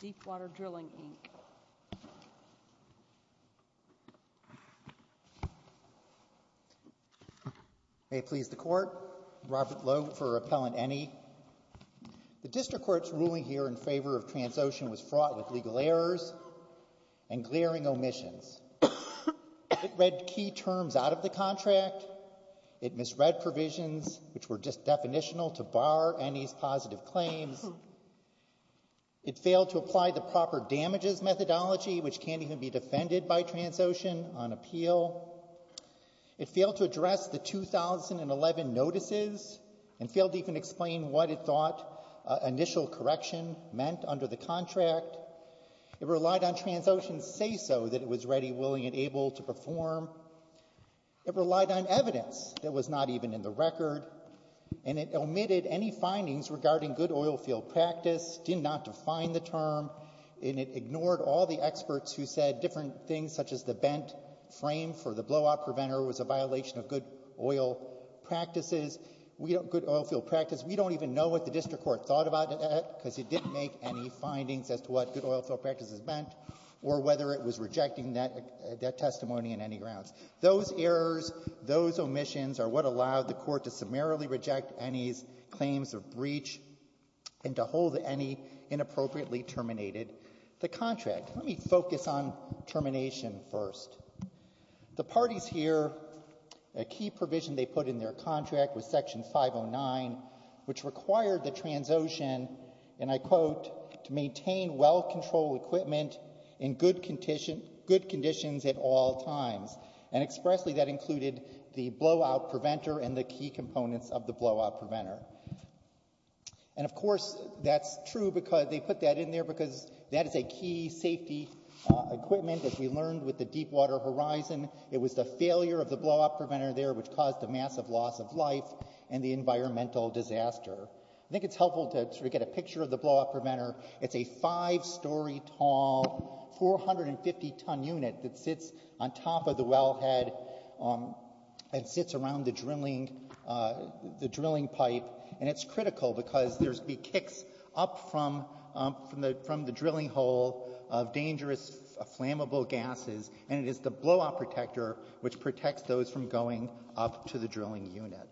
Deepwater Drilling, Inc. May it please the Court, Robert Logue for Appellant Eni. The District Court's ruling here in favor of Transocean was fraught with legal errors and glaring omissions. It read key terms out of the contract. It misread provisions which were just definitional to bar Eni's positive claims. It failed to apply the proper damages methodology, which can't even be defended by Transocean, on appeal. It failed to address the 2011 notices and failed to even explain what it thought initial correction meant under the contract. It relied on Transocean's say-so that it was ready, willing, and able to perform. It relied on evidence that was not even in the record. And it omitted any findings regarding good oilfield practice, did not define the term, and it ignored all the experts who said different things, such as the bent frame for the blowout preventer was a violation of good oilfield practice. We don't even know what the District Court thought about that because it didn't make any findings as to what good oilfield practice is bent or whether it was rejecting that testimony on any grounds. Those errors, those omissions are what allowed the Court to summarily reject Eni's claims of breach and to hold Eni inappropriately terminated the contract. Let me focus on termination first. The parties here, a key provision they put in their contract was Section 509, which required the Transocean, and I quote, to maintain well-controlled equipment in good conditions at all times. And expressly that included the blowout preventer and the key components of the blowout preventer. And, of course, that's true because they put that in there because that is a key safety equipment that we learned with the Deepwater Horizon. It was the failure of the blowout preventer there which caused a massive loss of life and the environmental disaster. I think it's helpful to sort of get a picture of the blowout preventer. It's a five-story tall, 450-ton unit that sits on top of the wellhead and sits around the drilling pipe, and it's critical because there's going to be kicks up from the drilling hole of dangerous, flammable gases, and it is the blowout protector which protects those from going up to the drilling unit.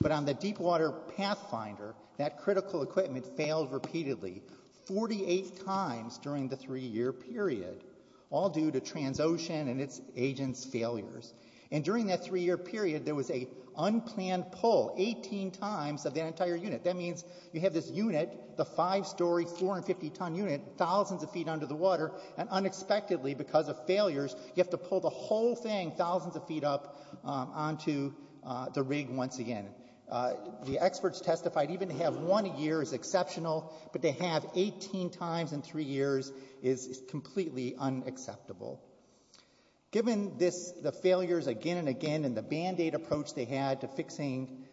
But on the Deepwater Pathfinder, that critical equipment failed repeatedly 48 times during the three-year period, all due to Transocean and its agents' failures. And during that three-year period, there was an unplanned pull 18 times of that entire unit. That means you have this unit, the five-story, 450-ton unit, thousands of feet under the water, and unexpectedly, because of failures, you have to pull the whole thing thousands of feet up onto the rig once again. The experts testified even to have one year is exceptional, but to have 18 times in three years is completely unacceptable. Given the failures again and again and the Band-Aid approach they had to fixing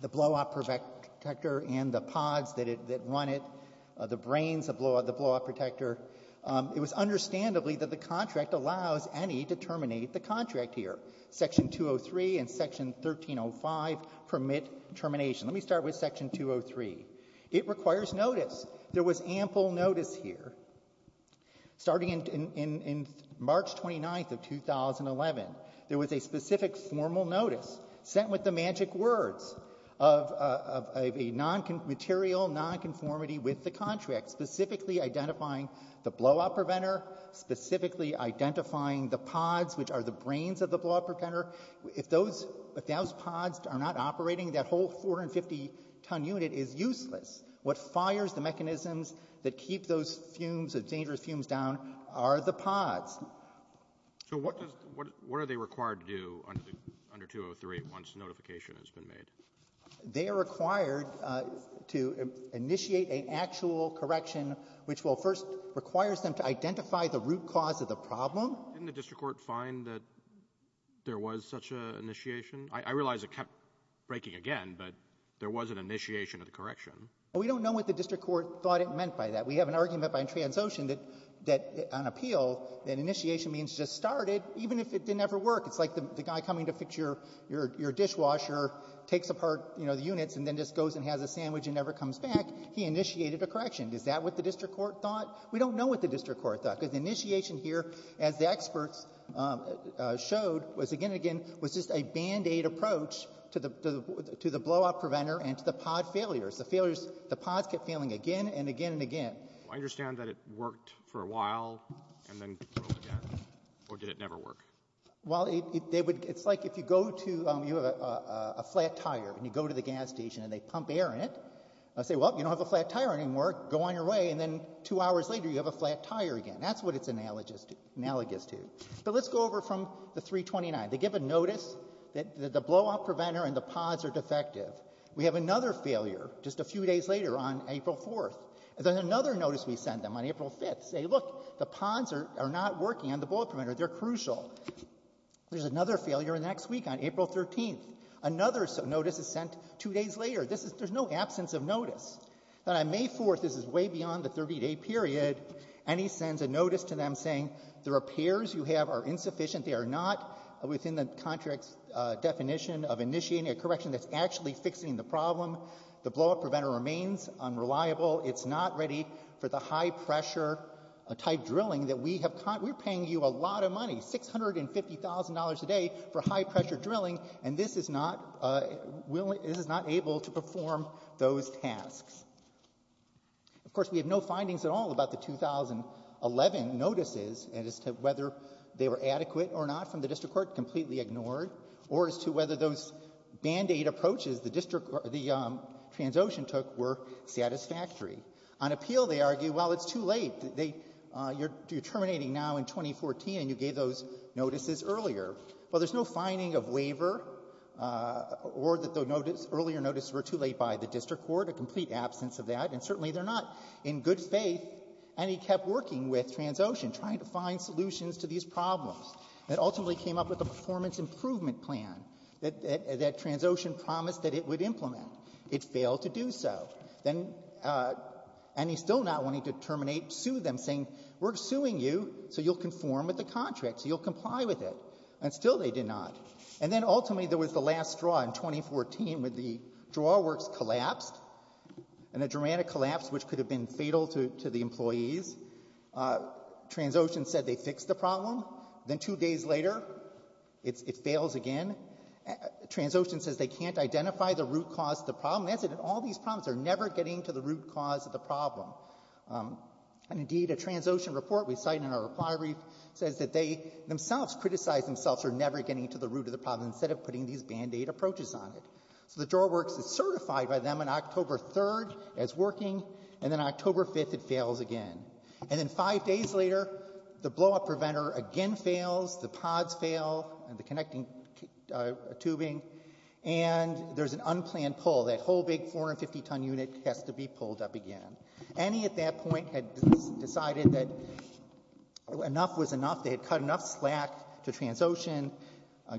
the blowout protector and the pods that run it, the brains of the blowout protector, it was understandably that the contract allows any to terminate the contract here. Section 203 and Section 1305 permit termination. Let me start with Section 203. It requires notice. There was ample notice here. Starting in March 29th of 2011, there was a specific formal notice sent with the magic words of a material nonconformity with the contract, specifically identifying the blowout preventer, specifically identifying the pods, which are the brains of the blowout preventer. If those pods are not operating, that whole 450-ton unit is useless. What fires the mechanisms that keep those fumes, the dangerous fumes down, are the pods. So what does the — what are they required to do under 203 once notification has been made? They are required to initiate an actual correction, which will first — requires them to identify the root cause of the problem. Didn't the district court find that there was such an initiation? I realize it kept breaking again, but there was an initiation of the correction. Well, we don't know what the district court thought it meant by that. We have an argument by Transocean that, on appeal, that initiation means just start it, even if it didn't ever work. It's like the guy coming to fix your dishwasher, takes apart, you know, the units, and then just goes and has a sandwich and never comes back. He initiated a correction. Is that what the district court thought? We don't know what the district court thought, because the initiation here, as the experts showed, was again and again was just a band-aid approach to the blow-up preventer and to the pod failures. The failures — the pods kept failing again and again and again. I understand that it worked for a while and then broke again. Or did it never work? Well, they would — it's like if you go to — you have a flat tire, and you go to the gas station, and they pump air in it. They say, well, you don't have a flat tire anymore. Go on your way. And then two hours later, you have a flat tire again. That's what it's analogous to. But let's go over from the 329. They give a notice that the blow-up preventer and the pods are defective. We have another failure just a few days later on April 4th. And then another notice we send them on April 5th. They say, look, the pods are not working on the blow-up preventer. They're crucial. There's another failure the next week on April 13th. Another notice is sent two days later. This is — there's no absence of notice. Then on May 4th, this is way beyond the 30-day period, and he sends a notice to them saying the repairs you have are insufficient. They are not within the contract's definition of initiating a correction that's actually fixing the problem. The blow-up preventer remains unreliable. It's not ready for the high-pressure-type drilling that we have — we're paying you a lot of money, $650,000 a day, for high-pressure drilling. And this is not — this is not able to perform those tasks. Of course, we have no findings at all about the 2011 notices as to whether they were adequate or not from the district court, completely ignored, or as to whether those Band-Aid approaches the district — the Transocean took were satisfactory. On appeal, they argue, well, it's too late. They — you're terminating now in 2014, and you gave those notices earlier. Well, there's no finding of waiver or that the notice — earlier notices were too late by the district court, a complete absence of that. And certainly they're not in good faith. And he kept working with Transocean, trying to find solutions to these problems. It ultimately came up with a performance improvement plan that Transocean promised that it would implement. It failed to do so. Then — and he's still not wanting to terminate, sue them, saying we're suing you, so you'll conform with the contract, so you'll comply with it. And still they did not. And then, ultimately, there was the last straw in 2014, when the drawer works collapsed, and a dramatic collapse which could have been fatal to the employees. Transocean said they fixed the problem. Then two days later, it fails again. Transocean says they can't identify the root cause of the problem. That's it. In all these problems, they're never getting to the root cause of the problem. And, indeed, a Transocean report we cite in our reply brief says that they themselves criticized themselves for never getting to the root of the problem, instead of putting these Band-Aid approaches on it. So the drawer works is certified by them on October 3rd as working, and then October 5th it fails again. And then five days later, the blow-up preventer again fails, the pods fail, and the connecting tubing, and there's an unplanned pull. That whole big 450-ton unit has to be pulled up again. Annie, at that point, had decided that enough was enough. They had cut enough slack to Transocean.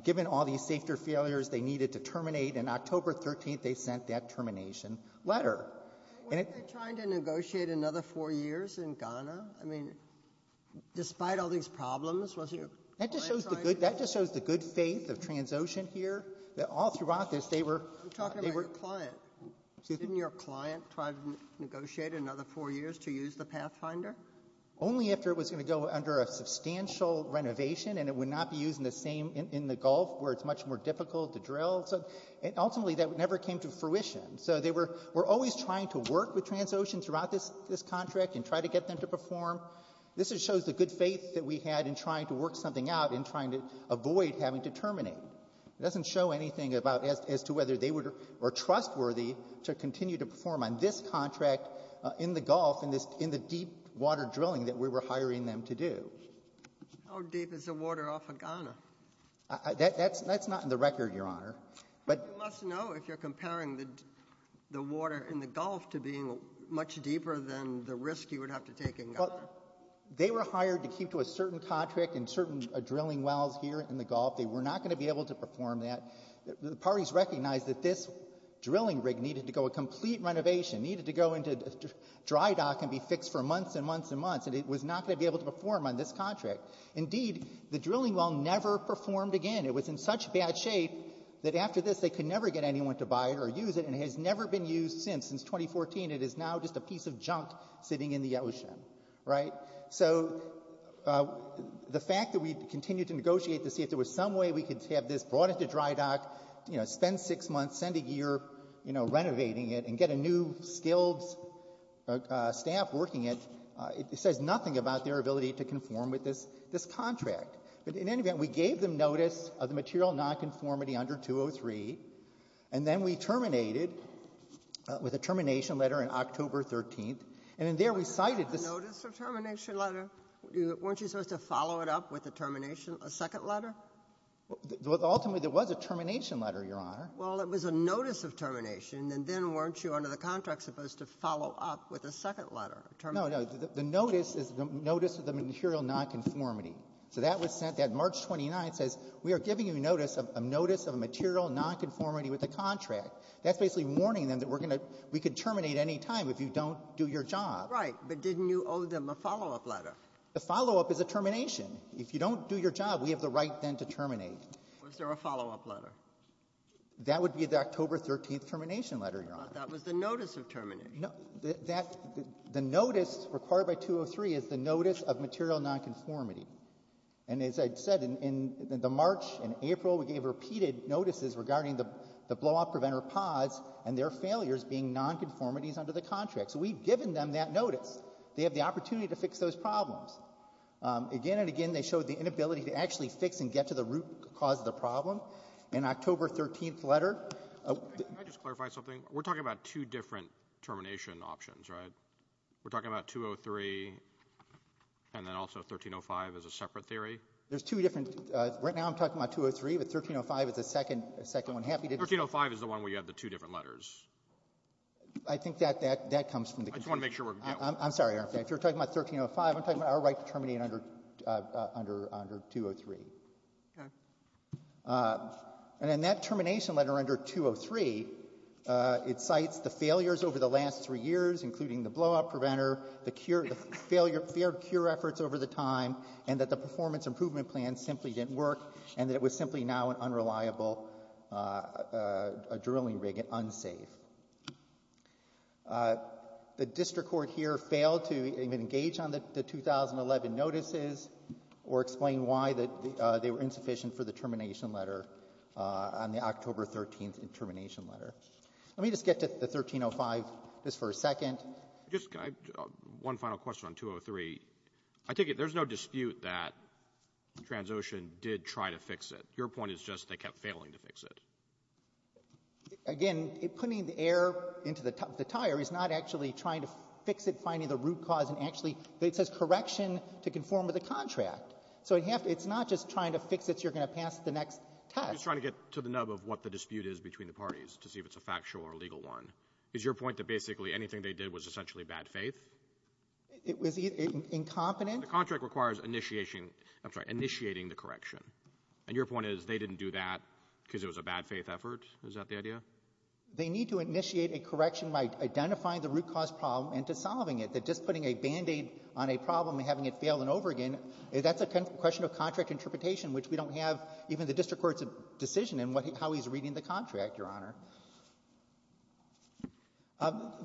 Given all these safety or failures, they needed to terminate. And October 13th, they sent that termination letter. Weren't they trying to negotiate another four years in Ghana? I mean, despite all these problems, wasn't your client trying to negotiate? That just shows the good faith of Transocean here. All throughout this, they were — I'm talking about your client. Excuse me? Didn't your client try to negotiate another four years to use the Pathfinder? Only after it was going to go under a substantial renovation, and it would not be used in the same — in the Gulf, where it's much more difficult to drill. So ultimately, that never came to fruition. So they were always trying to work with Transocean throughout this contract and try to get them to perform. This shows the good faith that we had in trying to work something out and trying to avoid having to terminate. It doesn't show anything about — as to whether they were trustworthy to continue to perform on this contract in the Gulf, in the deep-water drilling that we were hiring them to do. How deep is the water off of Ghana? That's not in the record, Your Honor. But you must know if you're comparing the water in the Gulf to being much deeper than the risk you would have to take in Ghana. Well, they were hired to keep to a certain contract in certain drilling wells here in the Gulf. They were not going to be able to perform that. The parties recognized that this drilling rig needed to go a complete renovation, needed to go into dry dock and be fixed for months and months and months, and it was not going to be able to perform on this contract. Indeed, the drilling well never performed again. It was in such bad shape that after this, they could never get anyone to buy it or use it, and it has never been used since, since 2014. It is now just a piece of junk sitting in the ocean, right? So the fact that we continued to negotiate to see if there was some way we could have this brought into dry dock, spend six months, send a year renovating it and get a new skilled staff working it, it says nothing about their ability to conform with this contract. But in any event, we gave them notice of the material nonconformity under 203, and then we terminated with a termination letter on October 13th. And in there, we cited the — But wasn't that a notice of termination letter? Weren't you supposed to follow it up with a termination — a second letter? Ultimately, there was a termination letter, Your Honor. Well, it was a notice of termination, and then weren't you under the contract supposed to follow up with a second letter? No, no. The notice is the notice of the material nonconformity. So that was sent. That March 29th says we are giving you notice of a notice of a material nonconformity with the contract. That's basically warning them that we're going to — we could terminate any time if you don't do your job. Right, but didn't you owe them a follow-up letter? A follow-up is a termination. If you don't do your job, we have the right then to terminate. Was there a follow-up letter? That would be the October 13th termination letter, Your Honor. But that was the notice of termination. No, that — the notice required by 203 is the notice of material nonconformity. And as I said, in the March and April, we gave repeated notices regarding the blowout preventer pods and their failures being nonconformities under the contract. So we've given them that notice. They have the opportunity to fix those problems. Again and again, they showed the inability to actually fix and get to the root cause of the problem. In October 13th letter — Can I just clarify something? We're talking about two different termination options, right? We're talking about 203 and then also 1305 as a separate theory? There's two different — right now I'm talking about 203, but 1305 is the second one. 1305 is the one where you have the two different letters. I think that comes from the — I just want to make sure we're — I'm sorry, Your Honor. If you're talking about 1305, I'm talking about our right to terminate under 203. Okay. And in that termination letter under 203, it cites the failures over the last three years, including the blowout preventer, the failed cure efforts over the time, and that the performance improvement plan simply didn't work and that it was simply now an unreliable drilling rig, unsafe. The district court here failed to even engage on the 2011 notices or explain why they were insufficient for the termination letter on the October 13th termination letter. Let me just get to the 1305 just for a second. Just one final question on 203. I take it there's no dispute that Transocean did try to fix it. Your point is just they kept failing to fix it. Again, putting the air into the tire is not actually trying to fix it, finding the root cause and actually — it says correction to conform to the contract. So it's not just trying to fix it so you're going to pass the next test. I'm just trying to get to the nub of what the dispute is between the parties to see if it's a factual or legal one. Is your point that basically anything they did was essentially bad faith? It was incompetent. The contract requires initiating the correction. And your point is they didn't do that because it was a bad faith effort? Is that the idea? They need to initiate a correction by identifying the root cause problem and to solving it. That just putting a Band-Aid on a problem and having it fail and over again, that's a question of contract interpretation, which we don't have even the district court's decision in how he's reading the contract, Your Honor.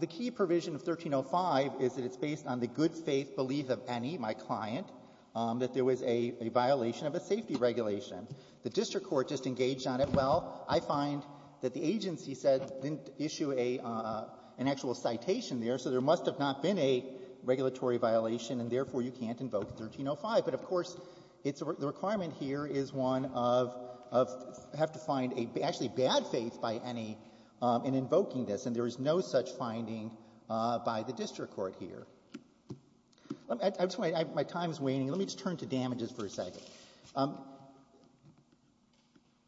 The key provision of 1305 is that it's based on the good faith belief of Eni, my client, that there was a violation of a safety regulation. The district court just engaged on it. Well, I find that the agency said didn't issue an actual citation there, so there must have not been a regulatory violation, and therefore you can't invoke 1305. But, of course, the requirement here is one of — there is no good faith by Eni in invoking this, and there is no such finding by the district court here. My time is waning. Let me just turn to damages for a second.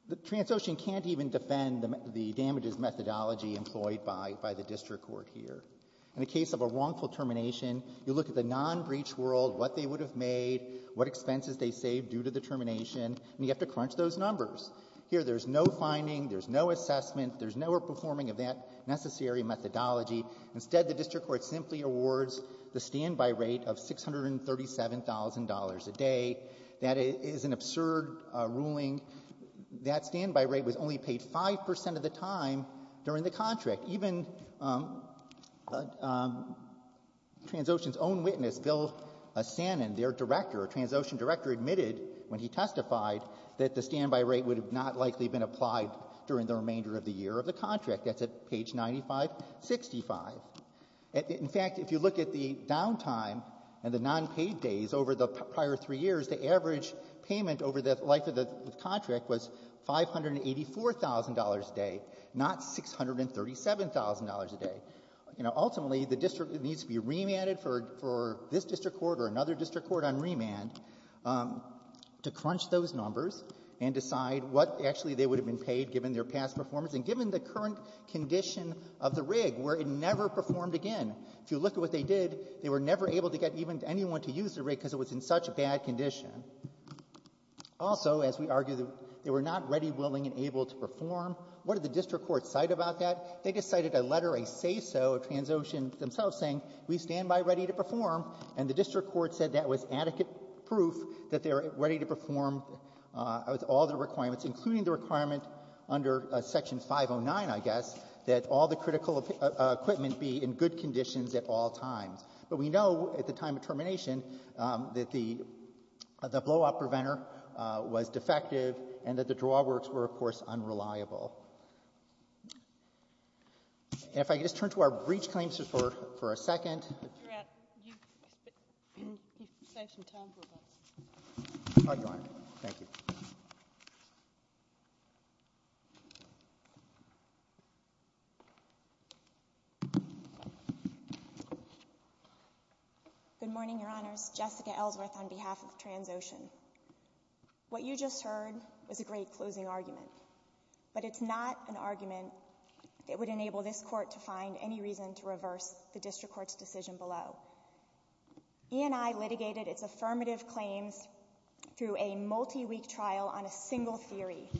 The Transocean can't even defend the damages methodology employed by the district court here. In the case of a wrongful termination, you look at the non-breach world, what they would have made, what expenses they saved due to the termination, and you have to crunch those numbers. Here there's no finding, there's no assessment, there's no performing of that necessary methodology. Instead, the district court simply awards the standby rate of $637,000 a day. That is an absurd ruling. That standby rate was only paid 5 percent of the time during the contract. Even Transocean's own witness, Bill Sannin, their director, a Transocean director, admitted when he testified that the standby rate would have not likely been applied during the remainder of the year of the contract. That's at page 9565. In fact, if you look at the downtime and the nonpaid days over the prior three years, the average payment over the life of the contract was $584,000 a day, not $637,000 a day. Ultimately, the district needs to be remanded for this district court or another district court on remand to crunch those numbers and decide what actually they would have been paid given their past performance and given the current condition of the rig where it never performed again. If you look at what they did, they were never able to get even anyone to use the rig because it was in such a bad condition. Also, as we argue, they were not ready, willing, and able to perform. What did the district court cite about that? They just cited a letter, a say-so of Transocean themselves saying we stand by ready to perform, and the district court said that was adequate proof that they were ready to perform with all the requirements, including the requirement under Section 509, I guess, that all the critical equipment be in good conditions at all times. But we know at the time of termination that the blowout preventer was defective and that the drawworks were, of course, unreliable. And if I could just turn to our breach claims for a second. You have some time for us. Thank you. Good morning, Your Honors. Jessica Ellsworth on behalf of Transocean. What you just heard was a great closing argument, but it's not an argument that would enable this court to find any reason to reverse the district court's decision below. E&I litigated its affirmative claims through a multi-week trial on a single theory,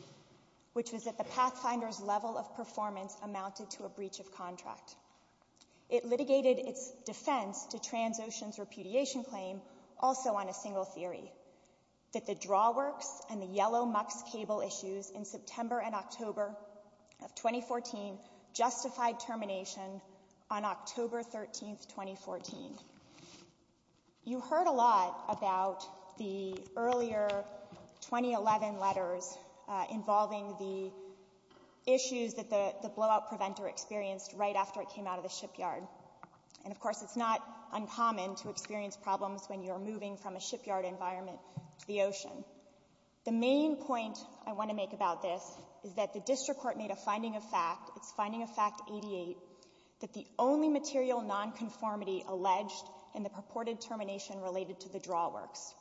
which was that the Pathfinder's level of performance amounted to a breach of contract. It litigated its defense to Transocean's repudiation claim also on a single theory, that the drawworks and the yellow MUX cable issues in September and October of 2014 justified termination on October 13, 2014. You heard a lot about the earlier 2011 letters involving the issues that the blowout preventer experienced right after it came out of the shipyard. And, of course, it's not uncommon to experience problems when you're moving from a shipyard environment to the ocean. The main point I want to make about this is that the district court made a finding of fact, its finding of fact 88, that the only material nonconformity alleged in the purported termination related to the drawworks,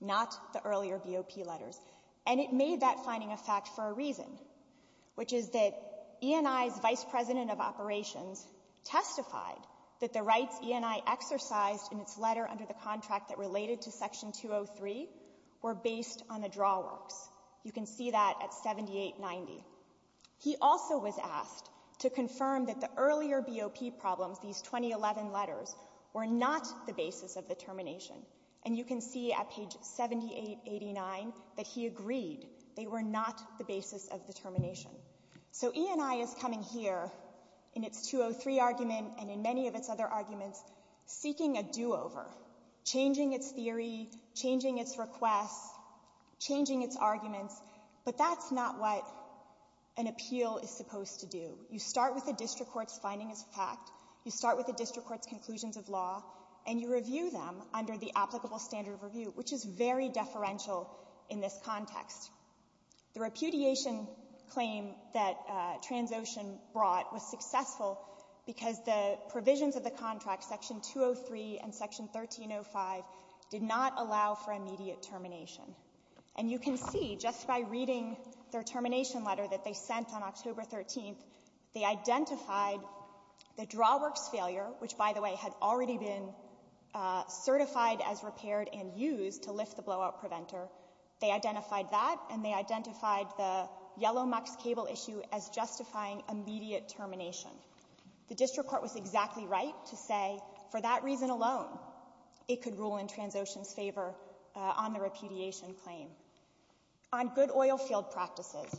not the earlier BOP letters. And it made that finding of fact for a reason, which is that E&I's vice president of operations testified that the rights E&I exercised in its letter under the contract that related to Section 203 were based on the drawworks. You can see that at 7890. He also was asked to confirm that the earlier BOP problems, these 2011 letters, were not the basis of the termination. And you can see at page 7889 that he agreed. They were not the basis of the termination. So E&I is coming here in its 203 argument and in many of its other arguments seeking a do-over, changing its theory, changing its requests, changing its arguments. But that's not what an appeal is supposed to do. You start with the district court's findings of fact. You start with the district court's conclusions of law. And you review them under the applicable standard of review, which is very deferential in this context. The repudiation claim that Transocean brought was successful because the provisions of the contract, Section 203 and Section 1305, did not allow for immediate termination. And you can see just by reading their termination letter that they sent on October 13th, they identified the drawworks failure, which, by the way, had already been certified as repaired and used to lift the blowout preventer. They identified that, and they identified the yellow MUX cable issue as justifying immediate termination. The district court was exactly right to say, for that reason alone, it could rule in Transocean's favor on the repudiation claim. On good oilfield practices,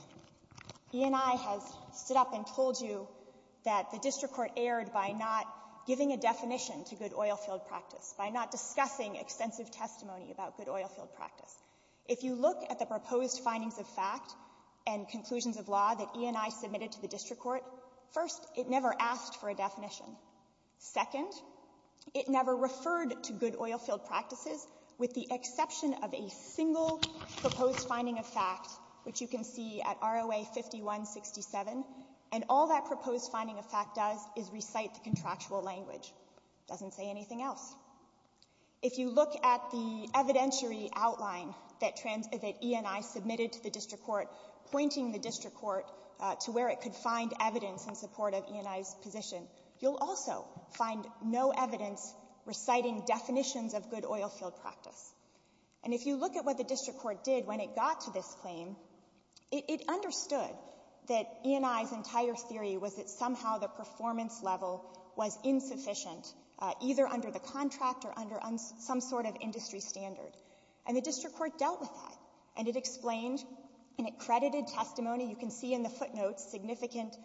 E&I has stood up and told you that the district court erred by not giving a definition to good oilfield practice, by not discussing extensive testimony about good oilfield practice. If you look at the proposed findings of fact and conclusions of law that E&I submitted to the district court, first, it never asked for a definition. Second, it never referred to good oilfield practices, with the exception of a single proposed finding of fact, which you can see at ROA 5167, and all that proposed finding of fact does is recite the contractual language. It doesn't say anything else. If you look at the evidentiary outline that E&I submitted to the district court, pointing the district court to where it could find evidence in support of E&I's position, you'll also find no evidence reciting definitions of good oilfield practice. And if you look at what the district court did when it got to this claim, it understood that E&I's entire theory was that somehow the performance level was insufficient, either under the contract or under some sort of industry standard. And the district court dealt with that, and it explained, and it credited testimony. You can see in the footnotes significant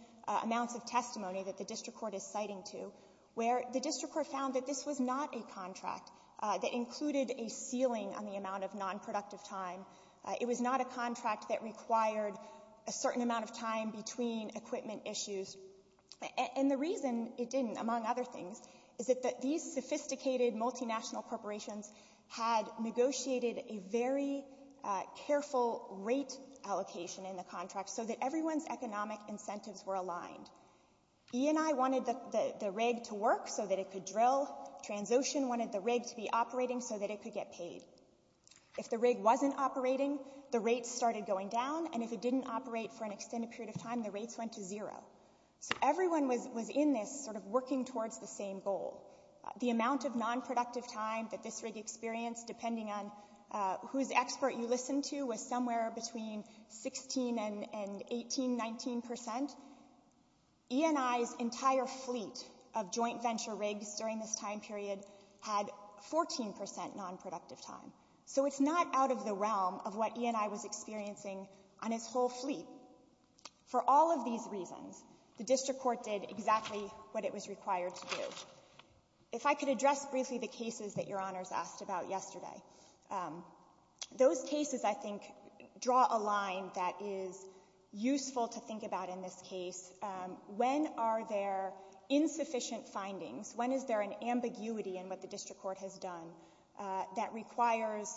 amounts of testimony that the district court is citing to, where the district court found that this was not a contract that included a ceiling on the amount of nonproductive time. It was not a contract that required a certain amount of time between equipment issues. And the reason it didn't, among other things, is that these sophisticated multinational corporations had negotiated a very careful rate allocation in the contract so that everyone's economic incentives were aligned. E&I wanted the rig to work so that it could drill. Transocean wanted the rig to be operating so that it could get paid. If the rig wasn't operating, the rates started going down, and if it didn't operate for an extended period of time, the rates went to zero. So everyone was in this sort of working towards the same goal. The amount of nonproductive time that this rig experienced, depending on whose expert you listened to, was somewhere between 16% and 18%, 19%. E&I's entire fleet of joint venture rigs during this time period had 14% nonproductive time. So it's not out of the realm of what E&I was experiencing on its whole fleet. For all of these reasons, the district court did exactly what it was required to do. If I could address briefly the cases that Your Honors asked about yesterday, those cases, I think, draw a line that is useful to think about in this case. When are there insufficient findings? When is there an ambiguity in what the district court has done that requires,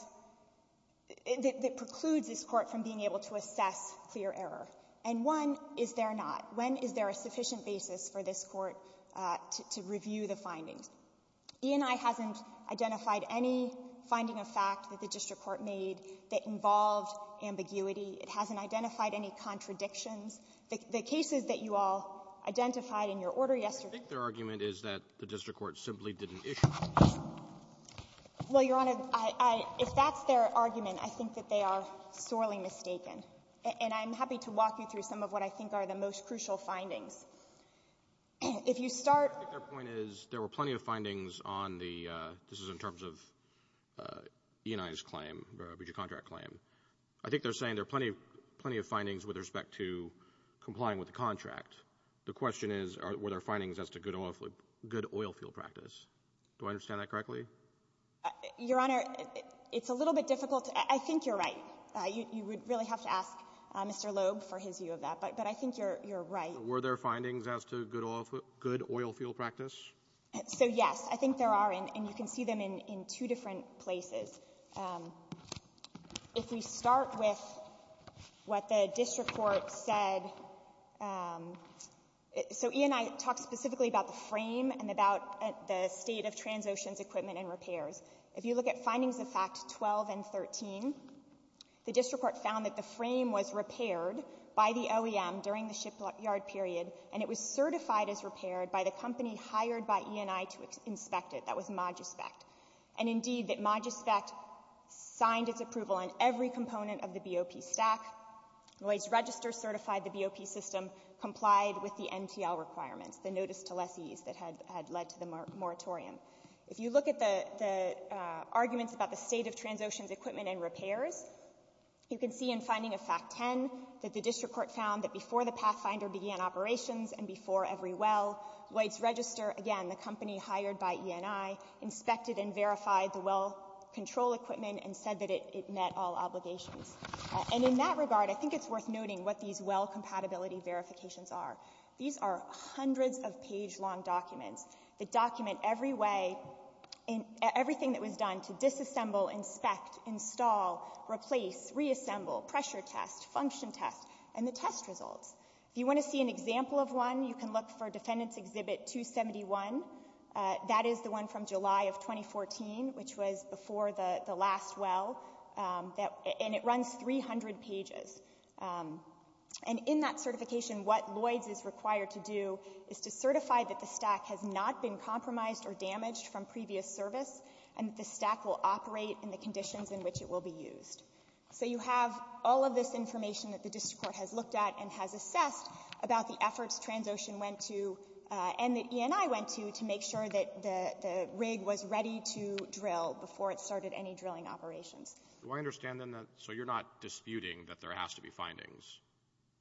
that precludes this court from being able to assess clear error? And one, is there not? When is there a sufficient basis for this court to review the findings? E&I hasn't identified any finding of fact that the district court made that involved ambiguity. It hasn't identified any contradictions. The cases that you all identified in your order yesterday — Roberts. I think their argument is that the district court simply didn't issue — Kovner. Well, Your Honor, if that's their argument, I think that they are sorely mistaken. And I'm happy to walk you through some of what I think are the most crucial findings. If you start — I think their point is there were plenty of findings on the — this is in terms of E&I's claim, the contract claim. I think they're saying there are plenty of findings with respect to complying with the contract. The question is, were there findings as to good oilfield practice? Do I understand that correctly? Your Honor, it's a little bit difficult — I think you're right. You would really have to ask Mr. Loeb for his view of that. But I think you're right. Were there findings as to good oilfield practice? So, yes. I think there are, and you can see them in two different places. If we start with what the district court said — so E&I talked specifically about the frame and about the state of Transocean's equipment and repairs. If you look at findings of fact 12 and 13, the district court found that the frame was repaired by the OEM during the shipyard period, and it was certified as repaired by the company hired by E&I to inspect it. That was Magispect. And, indeed, that Magispect signed its approval on every component of the BOP stack. Lloyds Register certified the BOP system complied with the NPL requirements, the notice to lessees that had led to the moratorium. If you look at the arguments about the state of Transocean's equipment and repairs, you can see in finding of fact 10 that the district court found that before the Pathfinder began operations and before every well, Lloyds Register, again, the company hired by E&I, inspected and verified the well control equipment and said that it met all obligations. And in that regard, I think it's worth noting what these well compatibility verifications are. These are hundreds of page-long documents that document everything that was done to disassemble, inspect, install, replace, reassemble, pressure test, function test, and the test results. If you want to see an example of one, you can look for Defendants Exhibit 271. That is the one from July of 2014, which was before the last well, and it runs 300 pages. And in that certification, what Lloyds is required to do is to certify that the stack has not been compromised or damaged from previous service and that the stack will operate in the conditions in which it will be used. So you have all of this information that the district court has looked at and has assessed about the efforts Transocean went to and that E&I went to to make sure that the rig was ready to drill before it started any drilling operations. Do I understand, then, that so you're not disputing that there has to be findings?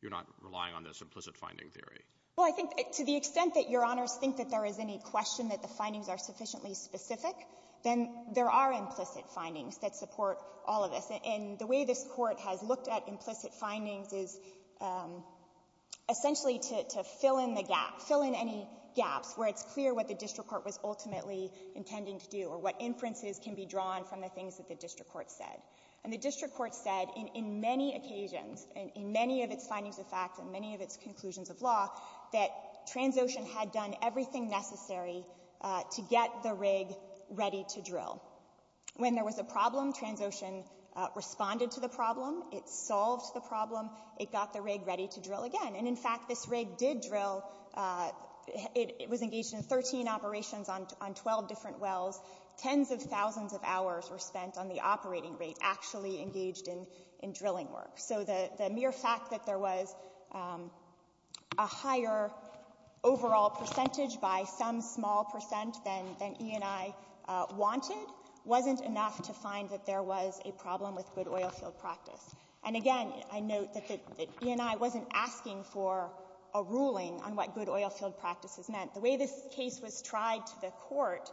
You're not relying on this implicit finding theory? Well, I think to the extent that Your Honors think that there is any question that the findings are sufficiently specific, then there are implicit findings that support all of this. And the way this Court has looked at implicit findings is essentially to fill in the gap, fill in any gaps where it's clear what the district court was ultimately intending to do or what inferences can be drawn from the things that the district court said. And the district court said in many occasions, in many of its findings of fact and many of its conclusions of law, that Transocean had done everything necessary to get the rig ready to drill. When there was a problem, Transocean responded to the problem. It solved the problem. It got the rig ready to drill again. And, in fact, this rig did drill. It was engaged in 13 operations on 12 different wells. Tens of thousands of hours were spent on the operating rig, actually engaged in drilling work. So the mere fact that there was a higher overall percentage by some small percent than E&I wanted wasn't enough to find that there was a problem with good oilfield practice. And, again, I note that E&I wasn't asking for a ruling on what good oilfield practices meant. The way this case was tried to the Court,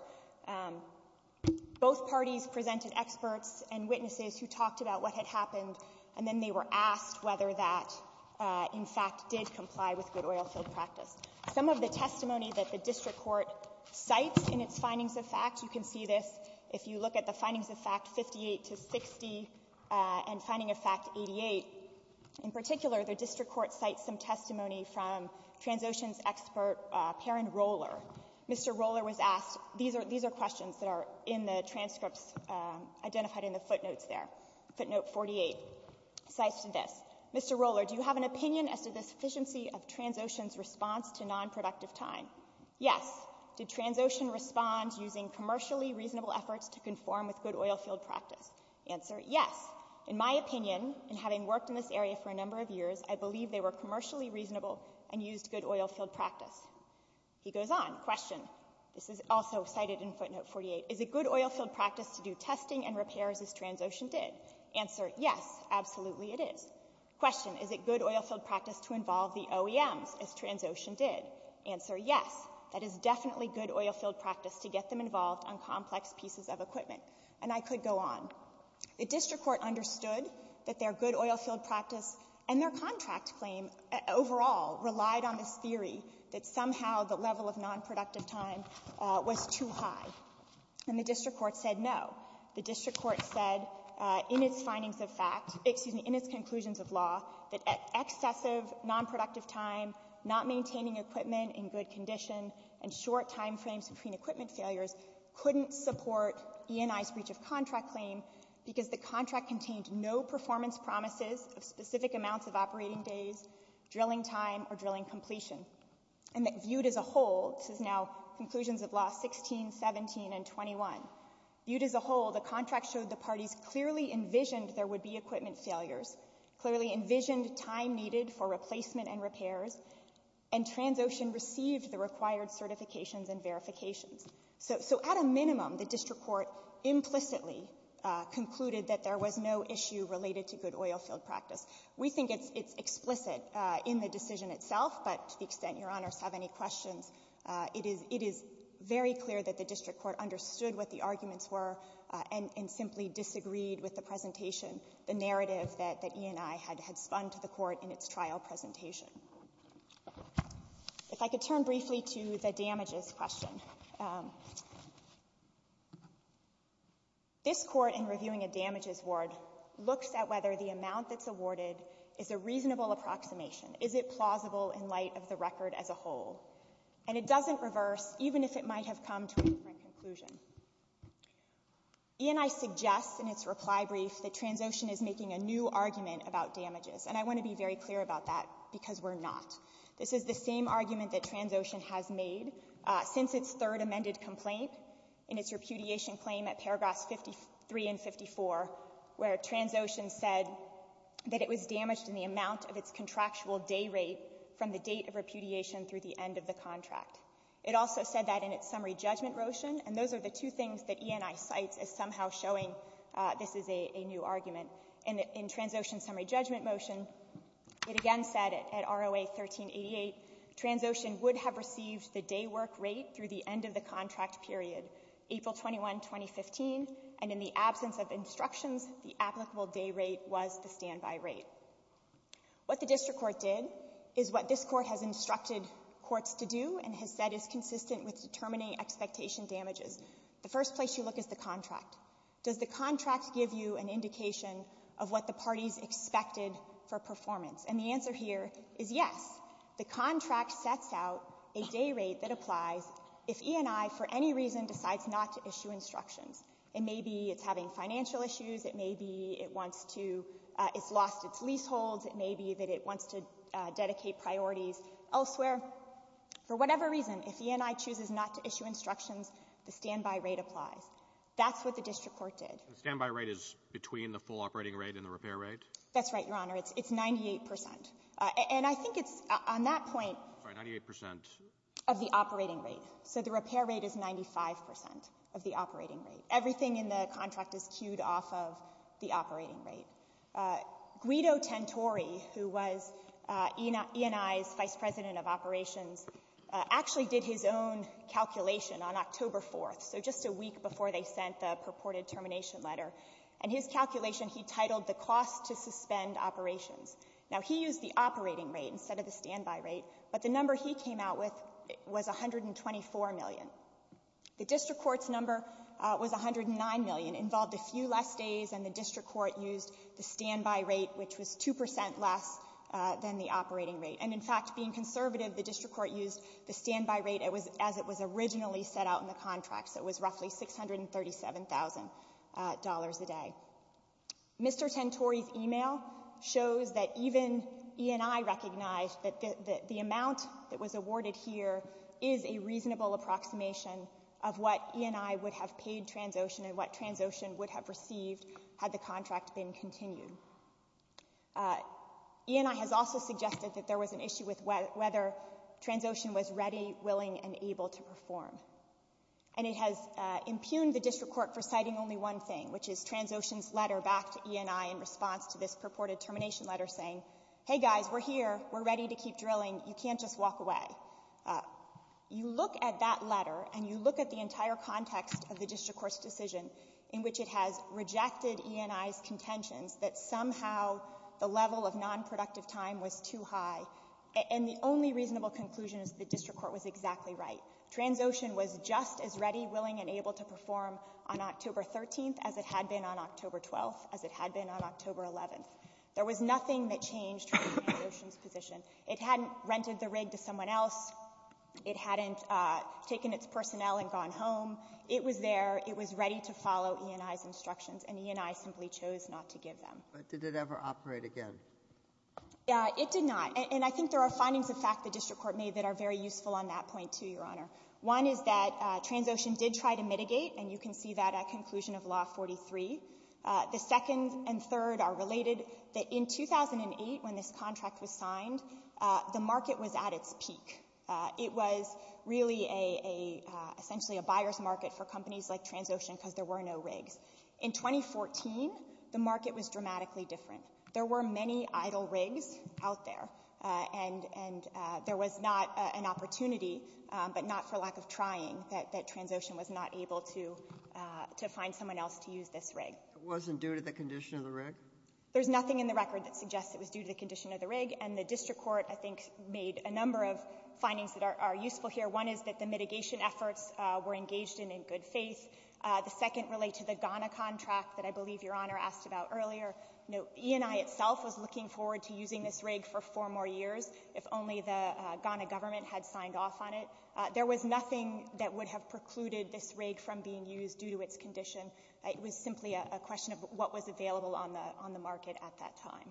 both parties presented experts and witnesses who talked about what had happened, and then they were asked whether that, in fact, did comply with good oilfield practice. Some of the testimony that the district court cites in its findings of fact, you can see this if you look at the findings of fact 58 to 60 and finding of fact 88. In particular, the district court cites some testimony from Transocean's expert Perrin Roller. Mr. Roller was asked these are questions that are in the transcripts identified in the footnotes there. Footnote 48 cites this. Mr. Roller, do you have an opinion as to the sufficiency of Transocean's response to nonproductive time? Yes. Did Transocean respond using commercially reasonable efforts to conform with good oilfield practice? Answer, yes. In my opinion, and having worked in this area for a number of years, I believe they were commercially reasonable and used good oilfield practice. He goes on. Question. This is also cited in footnote 48. Is it good oilfield practice to do testing and repairs as Transocean did? Answer, yes. Absolutely it is. Question. Is it good oilfield practice to involve the OEMs as Transocean did? Answer, yes. That is definitely good oilfield practice to get them involved on complex pieces of equipment. And I could go on. The district court understood that their good oilfield practice and their contract claim overall relied on this theory that somehow the level of nonproductive time was too high. And the district court said no. The district court said in its findings of fact, excuse me, in its conclusions of law, that excessive nonproductive time, not maintaining equipment in good condition, and short time frames between equipment failures couldn't support E&I's breach of contract claim because the contract contained no performance promises of specific amounts of operating days, drilling time, or drilling completion. And viewed as a whole, this is now conclusions of law 16, 17, and 21. Viewed as a whole, the contract showed the parties clearly envisioned there would be equipment failures, clearly envisioned time needed for replacement and repairs, and Transocean received the required certifications and verifications. So at a minimum, the district court implicitly concluded that there was no issue related to good oilfield practice. We think it's explicit in the decision itself, but to the extent Your Honors have any questions, it is very clear that the district court understood what the arguments were and simply disagreed with the presentation, the narrative that E&I had spun to the court in its trial presentation. If I could turn briefly to the damages question. This Court, in reviewing a damages ward, looks at whether the amount that's awarded is a reasonable approximation. Is it plausible in light of the record as a whole? And it doesn't reverse, even if it might have come to a different conclusion. E&I suggests in its reply brief that Transocean is making a new argument about damages, and I want to be very clear about that because we're not. This is the same argument that Transocean has made since its third amended complaint in its repudiation claim at paragraphs 53 and 54, where Transocean said that it was damaged in the amount of its contractual day rate from the date of repudiation through the end of the contract. It also said that in its summary judgment motion, and those are the two things that E&I cites as somehow showing this is a new argument. In Transocean's summary judgment motion, it again said at ROA 1388, Transocean would have received the day work rate through the end of the contract period, April 21, 2015, and in the absence of instructions, the applicable day rate was the standby rate. What the district court did is what this court has instructed courts to do and has said is consistent with determining expectation damages. The first place you look is the contract. Does the contract give you an indication of what the parties expected for performance? And the answer here is yes. The contract sets out a day rate that applies if E&I for any reason decides not to issue instructions. It may be it's having financial issues. It may be it wants to — it's lost its leaseholds. It may be that it wants to dedicate priorities elsewhere. For whatever reason, if E&I chooses not to issue instructions, the standby rate applies. That's what the district court did. The standby rate is between the full operating rate and the repair rate? That's right, Your Honor. It's 98 percent. And I think it's — on that point — Sorry, 98 percent. — of the operating rate. So the repair rate is 95 percent of the operating rate. Everything in the contract is cued off of the operating rate. Guido Tantori, who was E&I's vice president of operations, actually did his own calculation on October 4th, so just a week before they sent the purported termination letter. And his calculation, he titled the cost to suspend operations. Now, he used the operating rate instead of the standby rate. But the number he came out with was $124 million. The district court's number was $109 million. It involved a few less days, and the district court used the standby rate, which was 2 percent less than the operating rate. And, in fact, being conservative, the district court used the standby rate as it was originally set out in the contract. So it was roughly $637,000 a day. Mr. Tantori's email shows that even E&I recognized that the amount that was awarded here is a reasonable approximation of what E&I would have paid Transocean and what Transocean would have received had the contract been continued. E&I has also suggested that there was an issue with whether Transocean was ready, willing, and able to perform. And it has impugned the district court for citing only one thing, which is Transocean's letter back to E&I in response to this purported termination letter saying, hey, guys, we're here. We're ready to keep drilling. You can't just walk away. You look at that letter and you look at the entire context of the district court's decision in which it has rejected E&I's contentions that somehow the level of nonproductive time was too high, and the only reasonable conclusion is the district court was exactly right. Transocean was just as ready, willing, and able to perform on October 13th as it had been on October 12th, as it had been on October 11th. There was nothing that changed Transocean's position. It hadn't rented the rig to someone else. It hadn't taken its personnel and gone home. It was there. It was ready to follow E&I's instructions, and E&I simply chose not to give them. But did it ever operate again? Yeah, it did not. And I think there are findings of fact the district court made that are very clear. One is that Transocean did try to mitigate, and you can see that at conclusion of Law 43. The second and third are related. In 2008, when this contract was signed, the market was at its peak. It was really essentially a buyer's market for companies like Transocean because there were no rigs. In 2014, the market was dramatically different. There were many idle rigs out there, and there was not an opportunity, but not for lack of trying, that Transocean was not able to find someone else to use this rig. It wasn't due to the condition of the rig? There's nothing in the record that suggests it was due to the condition of the rig, and the district court, I think, made a number of findings that are useful here. One is that the mitigation efforts were engaged in in good faith. The second relates to the Ghana contract that I believe Your Honor asked about earlier. E&I itself was looking forward to using this rig for four more years if only the Ghana government had signed off on it. There was nothing that would have precluded this rig from being used due to its condition. It was simply a question of what was available on the market at that time.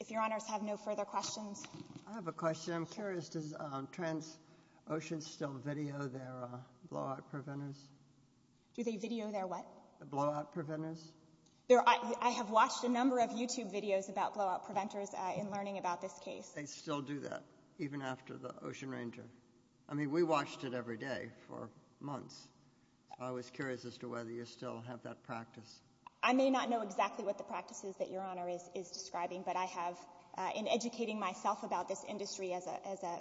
If Your Honors have no further questions. I have a question. I'm curious. Does Transocean still video their blowout preventers? Do they video their what? The blowout preventers? I have watched a number of YouTube videos about blowout preventers in learning about this case. They still do that, even after the Ocean Ranger? I mean, we watched it every day for months. I was curious as to whether you still have that practice. I may not know exactly what the practices that Your Honor is describing, but I have, in educating myself about this industry as a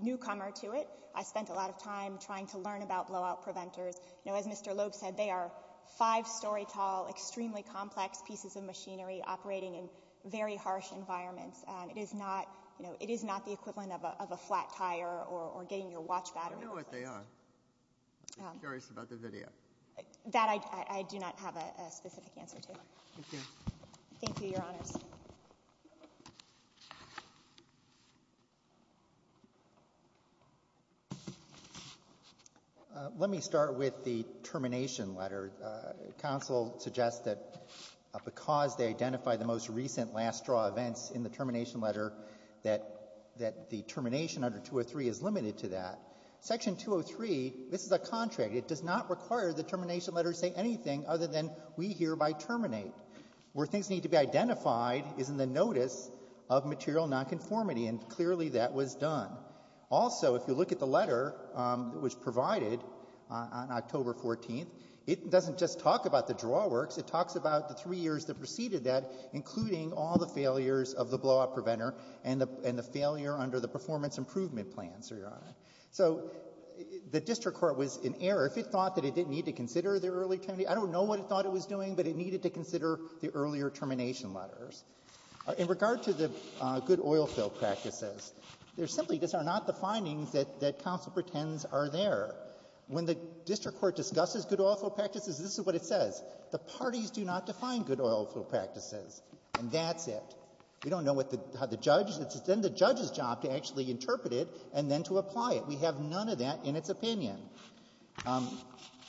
newcomer to it, I spent a lot of time trying to learn about blowout preventers. As Mr. Loeb said, they are five-story tall, extremely complex pieces of machinery operating in very harsh environments. It is not the equivalent of a flat tire or getting your watch battery replaced. I don't know what they are. I'm just curious about the video. That I do not have a specific answer to. Thank you. Thank you, Your Honors. Let me start with the termination letter. Counsel suggests that because they identify the most recent last straw events in the termination letter that the termination under 203 is limited to that. Section 203, this is a contract. It does not require the termination letter to say anything other than we hereby terminate. Where things need to be identified is in the notice of material nonconformity, and clearly that was done. Also, if you look at the letter that was provided on October 14th, it doesn't just talk about the drawworks. It talks about the three years that preceded that, including all the failures of the blow-up preventer and the failure under the performance improvement plan, Your Honor. So the district court was in error. If it thought that it didn't need to consider the early termination, I don't know what it thought it was doing, but it needed to consider the earlier termination letters. In regard to the good oil fill practices, there simply are not the findings that counsel pretends are there. When the district court discusses good oil fill practices, this is what it says. The parties do not define good oil fill practices, and that's it. We don't know what the judge — it's then the judge's job to actually interpret it and then to apply it. We have none of that in its opinion.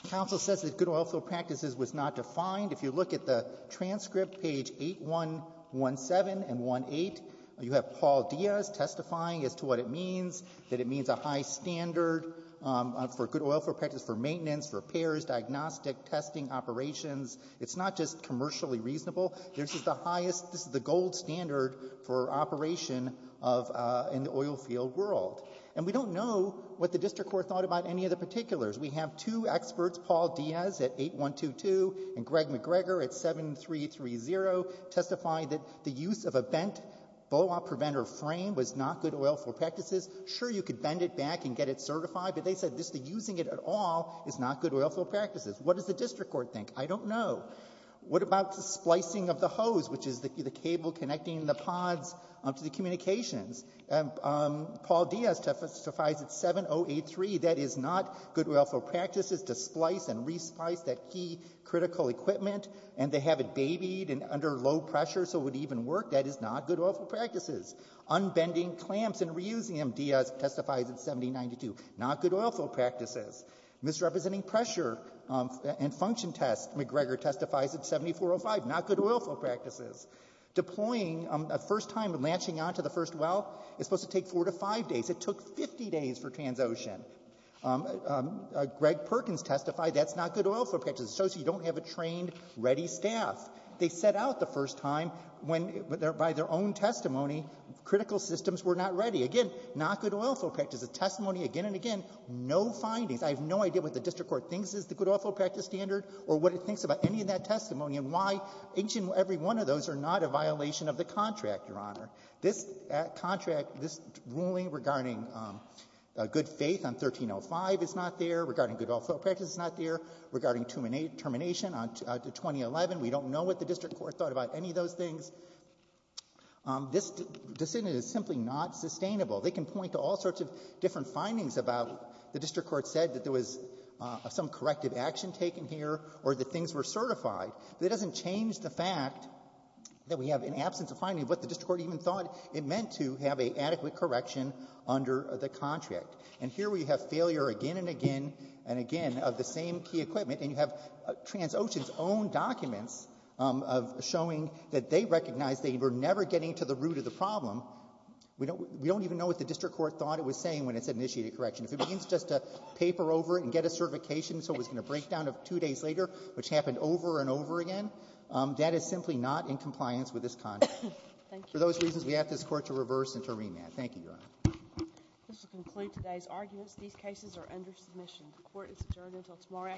Counsel says that good oil fill practices was not defined. If you look at the transcript, page 8-1-17 and 1-8, you have Paul Diaz testifying as to what it means, that it means a high standard for good oil fill practices for maintenance, repairs, diagnostic, testing, operations. It's not just commercially reasonable. This is the highest — this is the gold standard for operation of — in the oil field world. And we don't know what the district court thought about any of the particulars. We have two experts, Paul Diaz at 8-1-2-2 and Greg McGregor at 7-3-3-0, testifying that the use of a bent BOA preventer frame was not good oil fill practices. Sure, you could bend it back and get it certified, but they said just the using it at all is not good oil fill practices. What does the district court think? I don't know. What about the splicing of the hose, which is the cable connecting the pods to the communications? And Paul Diaz testifies at 7-0-8-3, that is not good oil fill practices to splice and re-splice that key critical equipment and to have it babied under low pressure so it would even work. That is not good oil fill practices. Unbending clamps and reusing them, Diaz testifies at 7-0-9-2, not good oil fill practices. Misrepresenting pressure and function tests, McGregor testifies at 7-4-0-5, not good oil fill practices. Deploying a first time and latching onto the first well is supposed to take four to five days. It took 50 days for Transocean. Greg Perkins testified that's not good oil fill practices. It shows you don't have a trained, ready staff. They set out the first time when, by their own testimony, critical systems were not ready. Again, not good oil fill practices. The testimony again and again, no findings. I have no idea what the district court thinks is the good oil fill practice standard or what it thinks about any of that testimony and why each and every one of those are not a violation of the contract, Your Honor. This contract, this ruling regarding good faith on 13-0-5 is not there. Regarding good oil fill practices is not there. Regarding termination on 2011, we don't know what the district court thought about any of those things. This decision is simply not sustainable. They can point to all sorts of different findings about the district court said that there was some corrective action taken here or that things were certified. That doesn't change the fact that we have an absence of finding what the district court even thought it meant to have an adequate correction under the contract. And here we have failure again and again and again of the same key equipment, and you have Transocean's own documents showing that they recognize they were never getting to the root of the problem. We don't even know what the district court thought it was saying when it said initiated correction. If it means just to paper over it and get a certification so it was going to break down two days later, which happened over and over again, that is simply not in compliance with this contract. For those reasons, we ask this court to reverse and to remand. Thank you, Your Honor. This will conclude today's arguments. These cases are under submission. The court is adjourned until tomorrow afternoon.